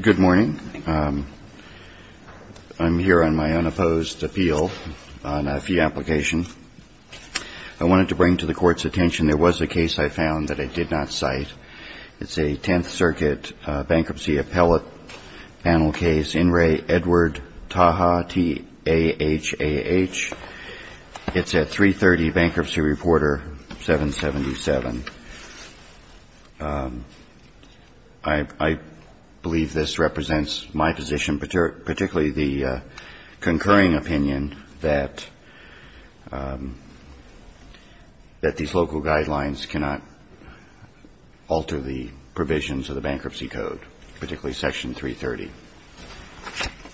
Good morning. I'm here on my unopposed appeal on a fee application. I wanted to bring to the court's attention there was a case I found that I did not cite. It's a 10th Circuit bankruptcy appellate panel case, In Re Edward Taha, T-A-H-A-H. It's at 3.30, Bankruptcy Reporter, 777. I believe this represents my position, particularly the concurring opinion that these local guidelines cannot alter the provisions of the Bankruptcy Code, particularly Section 330.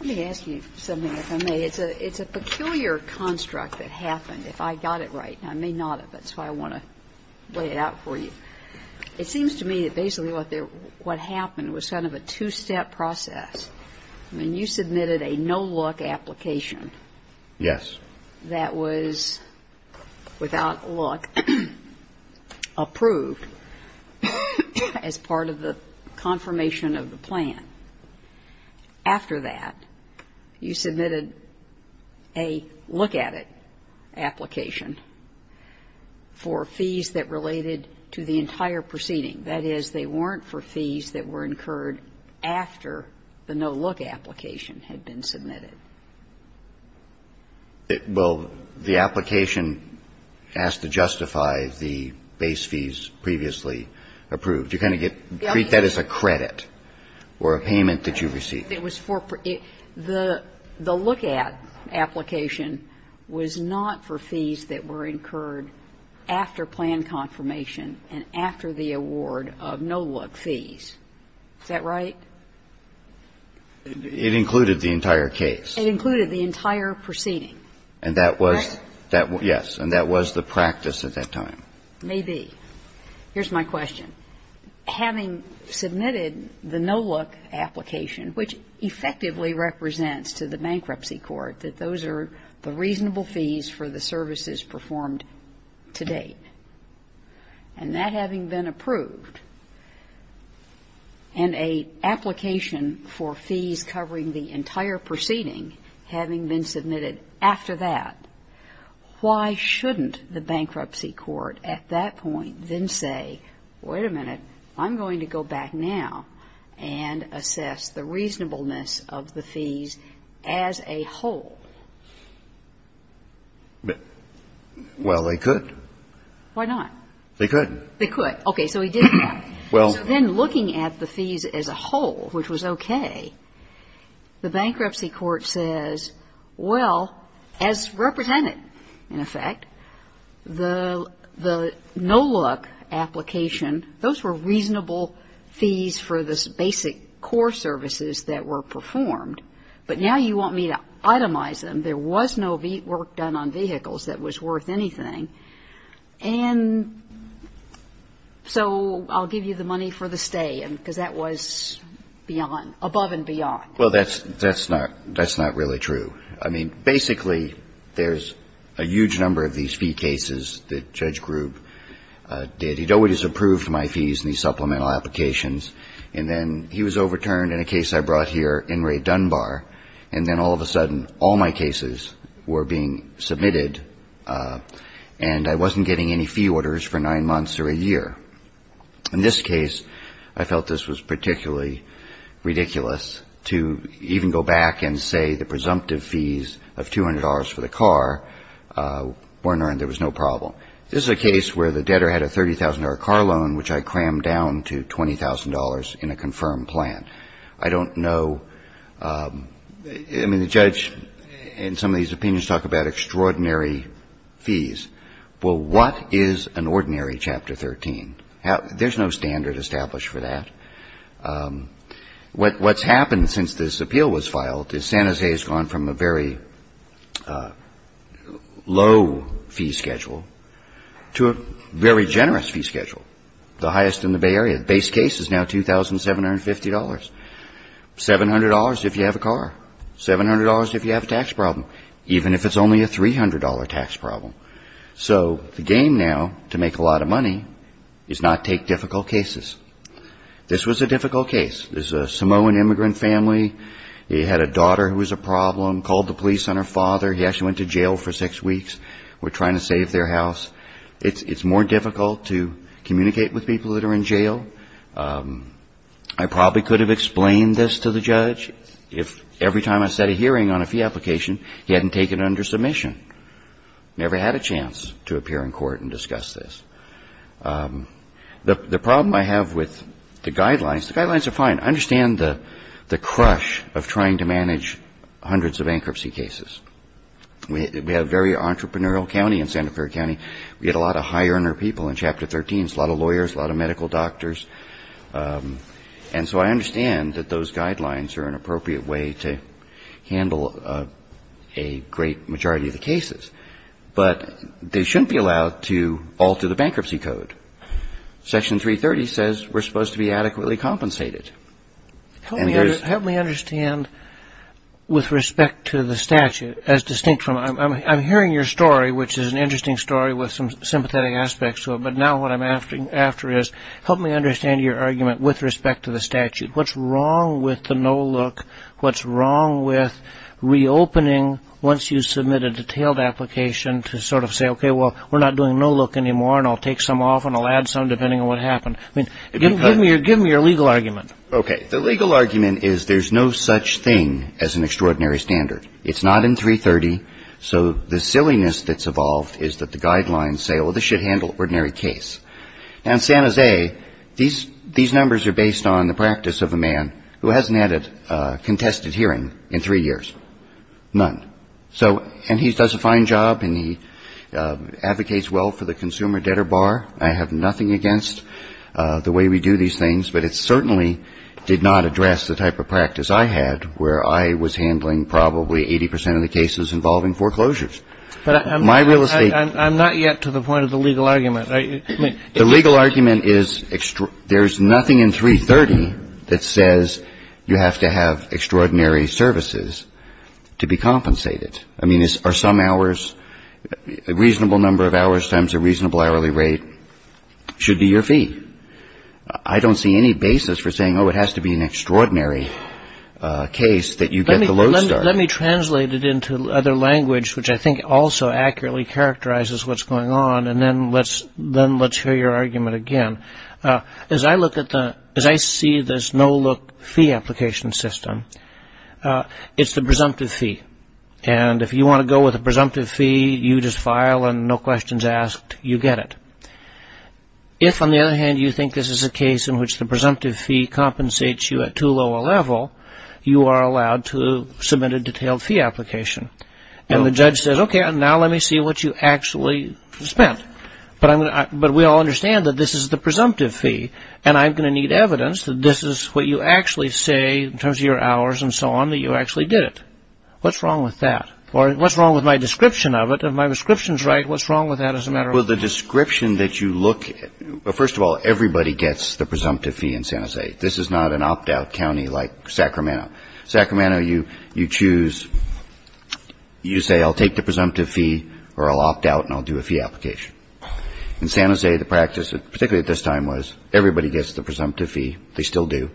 Let me ask you something, if I may. It's a peculiar construct that happened. If I got it right, and I may not have, that's why I want to lay it out for you. It seems to me that basically what happened was kind of a two-step process. I mean, you submitted a no-look application. Yes. That was, without a look, approved as part of the confirmation of the plan. After that, you submitted a look-at-it application for fees that related to the entire proceeding. That is, they weren't for fees that were incurred after the no-look application had been submitted. Well, the application has to justify the base fees previously approved. You kind of get to treat that as a credit or a payment that you received. It was for the look-at application was not for fees that were incurred after plan confirmation and after the award of no-look fees. Is that right? It included the entire case. It included the entire proceeding. And that was the practice at that time. Maybe. Here's my question. Having submitted the no-look application, which effectively represents to the bankruptcy court that those are the reasonable fees for the services performed to date, and that having been approved, and an application for fees covering the entire proceeding having been submitted after that, why shouldn't the bankruptcy court at that point then say, wait a minute, I'm going to go back now and assess the reasonableness of the fees as a whole? Well, they could. Why not? They could. They could. Okay. So he did that. Well. So then looking at the fees as a whole, which was okay, the bankruptcy court says, well, as represented, in effect, the no-look application, those were reasonable fees for the basic core services that were performed. But now you want me to itemize them. There was no work done on vehicles that was worth anything. And so I'll give you the money for the stay, because that was beyond, above and beyond. Well, that's not really true. I mean, basically, there's a huge number of these fee cases that Judge Grube did. He always approved my fees in these supplemental applications, and then he was overturned in a case I brought here in Ray Dunbar, and then all of a sudden all my cases were being submitted and I wasn't getting any fee orders for nine months or a year. In this case, I felt this was particularly ridiculous to even go back and say the presumptive fees of $200 for the car weren't earned. There was no problem. This is a case where the debtor had a $30,000 car loan, which I crammed down to $20,000 in a confirmed plan. I don't know. I mean, the judge in some of these opinions talk about extraordinary fees. Well, what is an ordinary Chapter 13? There's no standard established for that. What's happened since this appeal was filed is San Jose has gone from a very low fee schedule to a very generous fee schedule, the highest in the Bay Area. The base case is now $2,750, $700 if you have a car, $700 if you have a tax problem, even if it's only a $300 tax problem. So the game now to make a lot of money is not take difficult cases. This was a difficult case. This is a Samoan immigrant family. He had a daughter who was a problem, called the police on her father. He actually went to jail for six weeks. We're trying to save their house. It's more difficult to communicate with people that are in jail. I probably could have explained this to the judge if every time I set a hearing on a fee application, he hadn't taken it under submission, never had a chance to appear in court and discuss this. The problem I have with the guidelines, the guidelines are fine. I understand the crush of trying to manage hundreds of bankruptcy cases. We have a very entrepreneurial county in Santa Clara County. We get a lot of high-earner people in Chapter 13, a lot of lawyers, a lot of medical doctors. And so I understand that those guidelines are an appropriate way to handle a great majority of the cases. But they shouldn't be allowed to alter the bankruptcy code. Section 330 says we're supposed to be adequately compensated. Help me understand with respect to the statute. I'm hearing your story, which is an interesting story with some sympathetic aspects to it, but now what I'm after is help me understand your argument with respect to the statute. What's wrong with the no-look? What's wrong with reopening once you submit a detailed application to sort of say, okay, well, we're not doing no-look anymore and I'll take some off and I'll add some depending on what happened? Give me your legal argument. Okay. The legal argument is there's no such thing as an extraordinary standard. It's not in 330. So the silliness that's evolved is that the guidelines say, well, this should handle an ordinary case. Now, in San Jose, these numbers are based on the practice of a man who hasn't had a contested hearing in three years. None. And he does a fine job and he advocates well for the consumer debtor bar. I have nothing against the way we do these things, but it certainly did not address the type of practice I had where I was handling probably 80 percent of the cases involving foreclosures. But I'm not yet to the point of the legal argument. The legal argument is there's nothing in 330 that says you have to have extraordinary services to be compensated. I mean, are some hours a reasonable number of hours times a reasonable hourly rate should be your fee. I don't see any basis for saying, oh, it has to be an extraordinary case that you get the low start. Let me translate it into other language, which I think also accurately characterizes what's going on. And then let's hear your argument again. As I look at the as I see this no-look fee application system, it's the presumptive fee. And if you want to go with a presumptive fee, you just file and no questions asked, you get it. If, on the other hand, you think this is a case in which the presumptive fee compensates you at too low a level, you are allowed to submit a detailed fee application. And the judge says, OK, now let me see what you actually spent. But we all understand that this is the presumptive fee, and I'm going to need evidence that this is what you actually say in terms of your hours and so on that you actually did it. What's wrong with that? Or what's wrong with my description of it? If my description is right, what's wrong with that as a matter of. Well, the description that you look at. First of all, everybody gets the presumptive fee in San Jose. This is not an opt out county like Sacramento. Sacramento, you you choose. You say I'll take the presumptive fee or I'll opt out and I'll do a fee application. In San Jose, the practice, particularly at this time, was everybody gets the presumptive fee. They still do.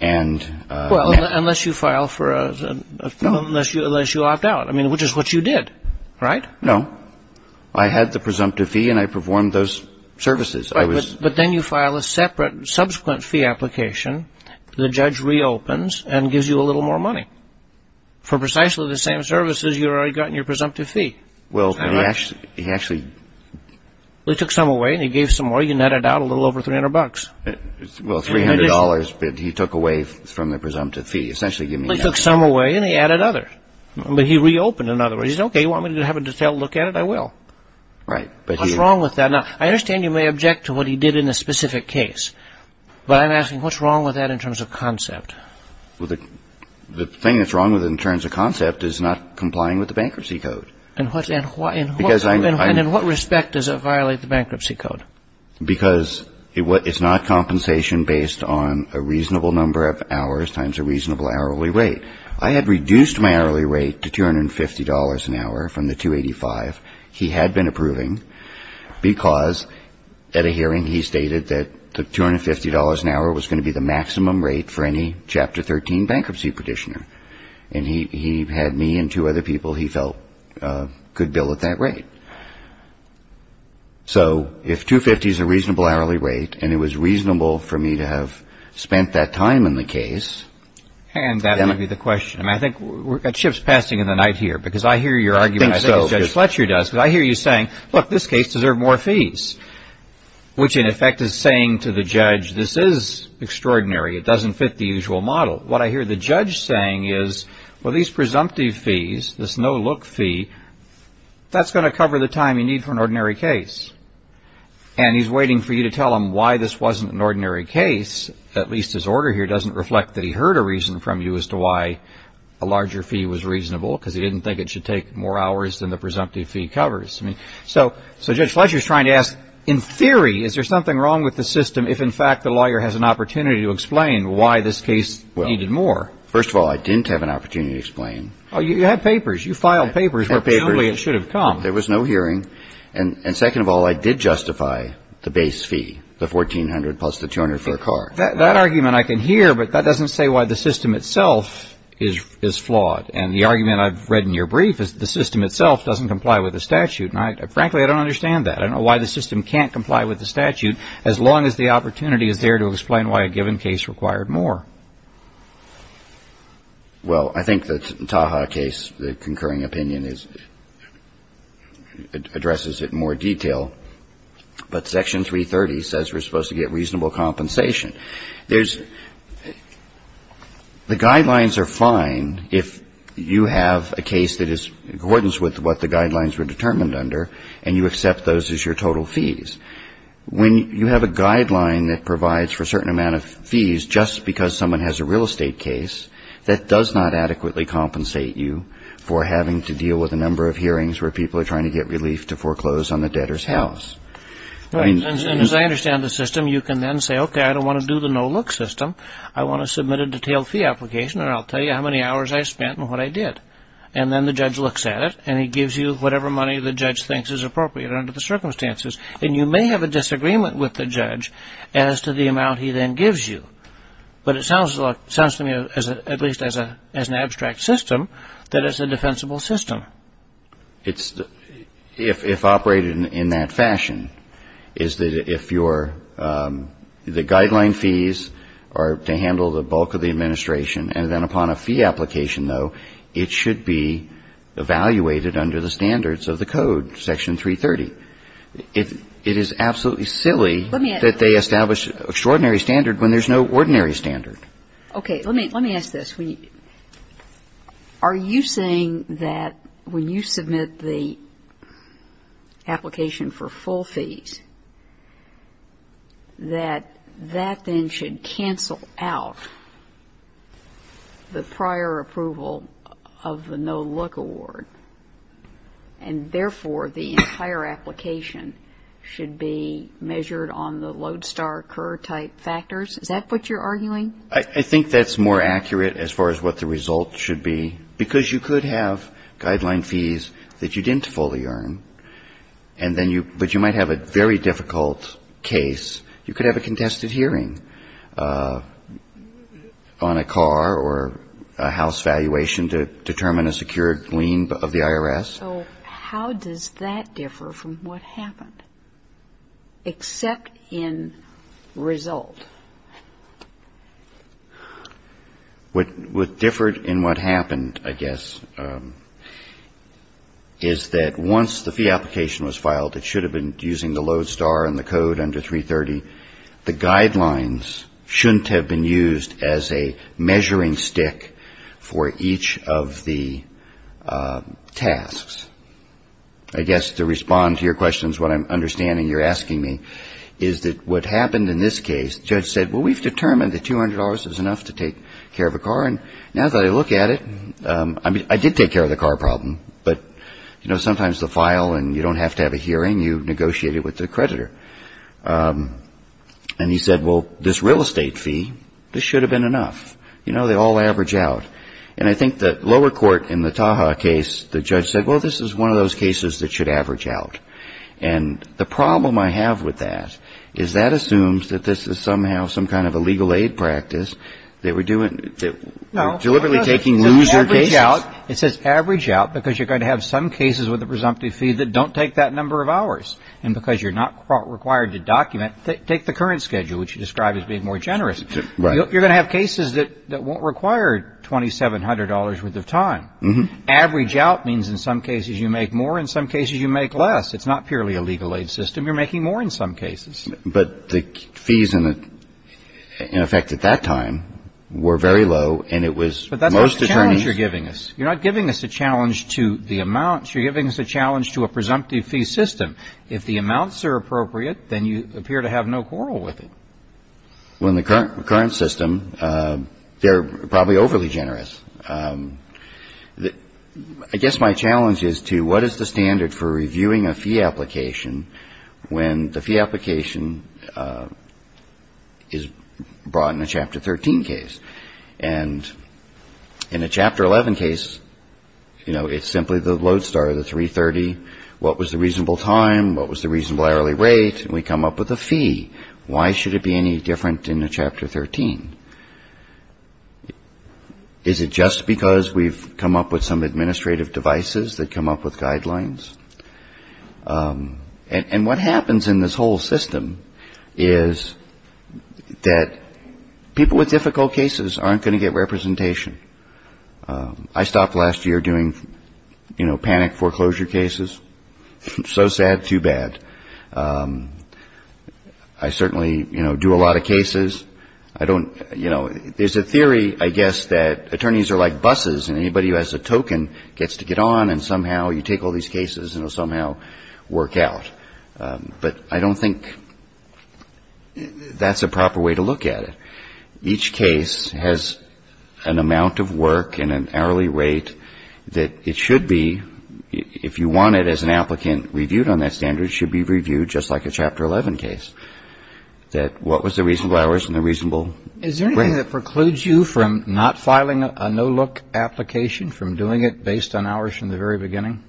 And. Well, unless you file for a. Unless you opt out. I mean, which is what you did. Right. No, I had the presumptive fee and I performed those services. I was. But then you file a separate subsequent fee application. The judge reopens and gives you a little more money for precisely the same services. You've already gotten your presumptive fee. Well, he actually he actually took some away and he gave some more. He added out a little over 300 bucks. Well, three hundred dollars. But he took away from the presumptive fee. Essentially, you took some away and he added other. But he reopened another. He's OK. You want me to have a detailed look at it? I will. Right. But what's wrong with that? Now, I understand you may object to what he did in a specific case. But I'm asking what's wrong with that in terms of concept. Well, the thing that's wrong with it in terms of concept is not complying with the bankruptcy code. Because in what respect does it violate the bankruptcy code? Because it's not compensation based on a reasonable number of hours times a reasonable hourly rate. I had reduced my hourly rate to 250 dollars an hour from the 285. He had been approving because at a hearing he stated that the 250 dollars an hour was going to be the maximum rate for any chapter 13 bankruptcy petitioner. And he had me and two other people he felt could bill at that rate. So if 250 is a reasonable hourly rate and it was reasonable for me to have spent that time in the case. And that may be the question. I think we're at shifts passing in the night here because I hear your argument. I think Judge Fletcher does. I hear you saying, look, this case deserved more fees. Which in effect is saying to the judge, this is extraordinary. It doesn't fit the usual model. What I hear the judge saying is, well, these presumptive fees, this no look fee, that's going to cover the time you need for an ordinary case. And he's waiting for you to tell him why this wasn't an ordinary case. At least his order here doesn't reflect that he heard a reason from you as to why a larger fee was reasonable. Because he didn't think it should take more hours than the presumptive fee covers. So Judge Fletcher is trying to ask, in theory, is there something wrong with the system if in fact the lawyer has an opportunity to explain why this case needed more? First of all, I didn't have an opportunity to explain. You had papers. You filed papers where presumably it should have come. There was no hearing. And second of all, I did justify the base fee, the 1400 plus the 200 for the car. That argument I can hear, but that doesn't say why the system itself is flawed. And the argument I've read in your brief is the system itself doesn't comply with the statute. And frankly, I don't understand that. I don't know why the system can't comply with the statute as long as the opportunity is there to explain why a given case required more. Well, I think the Taha case, the concurring opinion, addresses it in more detail. But Section 330 says we're supposed to get reasonable compensation. There's the guidelines are fine if you have a case that is in accordance with what the guidelines were determined under and you accept those as your total fees. When you have a guideline that provides for a certain amount of fees just because someone has a real estate case, that does not adequately compensate you for having to deal with a number of hearings where people are trying to get relief to foreclose on the debtor's house. As I understand the system, you can then say, okay, I don't want to do the no-look system. I want to submit a detailed fee application and I'll tell you how many hours I spent and what I did. And then the judge looks at it and he gives you whatever money the judge thinks is appropriate under the circumstances. And you may have a disagreement with the judge as to the amount he then gives you. But it sounds to me, at least as an abstract system, that it's a defensible system. It's, if operated in that fashion, is that if you're, the guideline fees are to handle the bulk of the administration and then upon a fee application, though, it should be evaluated under the standards of the code, Section 330. It is absolutely silly that they establish extraordinary standard when there's no ordinary standard. Okay. Let me ask this. Are you saying that when you submit the application for full fees, that that then should cancel out the prior approval of the no-look award and, therefore, the entire application should be measured on the Lodestar-Kerr type factors? Is that what you're arguing? I think that's more accurate as far as what the result should be. Because you could have guideline fees that you didn't fully earn and then you, but you might have a very difficult case. You could have a contested hearing on a car or a house valuation to determine a secured lien of the IRS. So how does that differ from what happened except in result? What differed in what happened, I guess, is that once the fee application was filed, it should have been using the Lodestar and the code under 330. The guidelines shouldn't have been used as a measuring stick for each of the tasks. I guess to respond to your questions, what I'm understanding you're asking me is that what happened in this case, the judge said, well, we've determined that $200 is enough to take care of a car. And now that I look at it, I mean, I did take care of the car problem, but, you know, And he said, well, this real estate fee, this should have been enough. You know, they all average out. And I think the lower court in the Tahoe case, the judge said, well, this is one of those cases that should average out. And the problem I have with that is that assumes that this is somehow some kind of a legal aid practice. They were doing deliberately taking loser cases. It says average out because you're going to have some cases with a presumptive fee that don't take that number of hours. And because you're not required to document, take the current schedule, which you described as being more generous. You're going to have cases that won't require $2,700 worth of time. Average out means in some cases you make more. In some cases you make less. It's not purely a legal aid system. You're making more in some cases. But the fees in effect at that time were very low, and it was most attorneys. But that's the challenge you're giving us. You're not giving us a challenge to the amounts. You're giving us a challenge to a presumptive fee system. If the amounts are appropriate, then you appear to have no quarrel with it. Well, in the current system, they're probably overly generous. I guess my challenge is to what is the standard for reviewing a fee application when the fee application is brought in a Chapter 13 case? And in a Chapter 11 case, you know, it's simply the lodestar, the 330. What was the reasonable time? What was the reasonable hourly rate? And we come up with a fee. Why should it be any different in a Chapter 13? Is it just because we've come up with some administrative devices that come up with guidelines? And what happens in this whole system is that people with difficult cases aren't going to get representation. I stopped last year doing, you know, panic foreclosure cases. So sad, too bad. I certainly, you know, do a lot of cases. I don't, you know, there's a theory, I guess, that attorneys are like buses, and anybody who has a token gets to get on and somehow you take all these cases and it'll somehow work out. But I don't think that's a proper way to look at it. Each case has an amount of work and an hourly rate that it should be, if you want it as an applicant, reviewed on that standard. It should be reviewed just like a Chapter 11 case, that what was the reasonable hours and the reasonable rate. Is there anything that precludes you from not filing a no-look application, from doing it based on hours from the very beginning?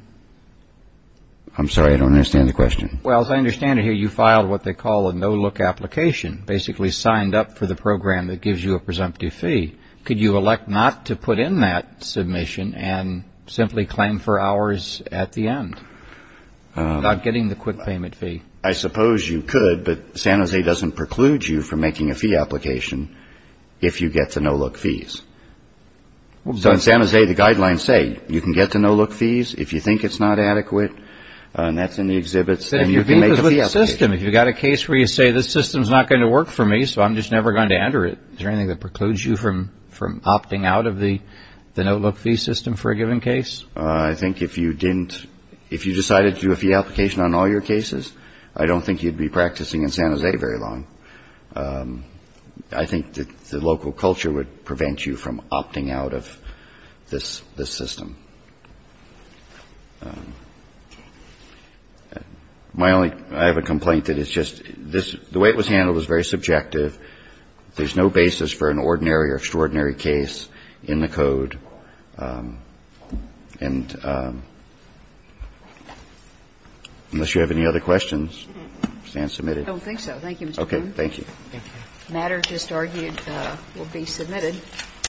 I'm sorry, I don't understand the question. Well, as I understand it here, you filed what they call a no-look application, basically signed up for the program that gives you a presumptive fee. Could you elect not to put in that submission and simply claim for hours at the end, not getting the quick payment fee? I suppose you could, but San Jose doesn't preclude you from making a fee application if you get the no-look fees. So in San Jose, the guidelines say you can get the no-look fees if you think it's not adequate, and that's in the exhibits, and you can make a fee application. If you've got a case where you say, this system's not going to work for me, so I'm just never going to enter it, is there anything that precludes you from opting out of the no-look fee system for a given case? I think if you didn't – if you decided to do a fee application on all your cases, I don't think you'd be practicing in San Jose very long. I think the local culture would prevent you from opting out of this system. My only – I have a complaint that it's just – the way it was handled is very subjective. There's no basis for an ordinary or extraordinary case in the code. And unless you have any other questions, I stand submitted. I don't think so. Thank you, Mr. Cohn.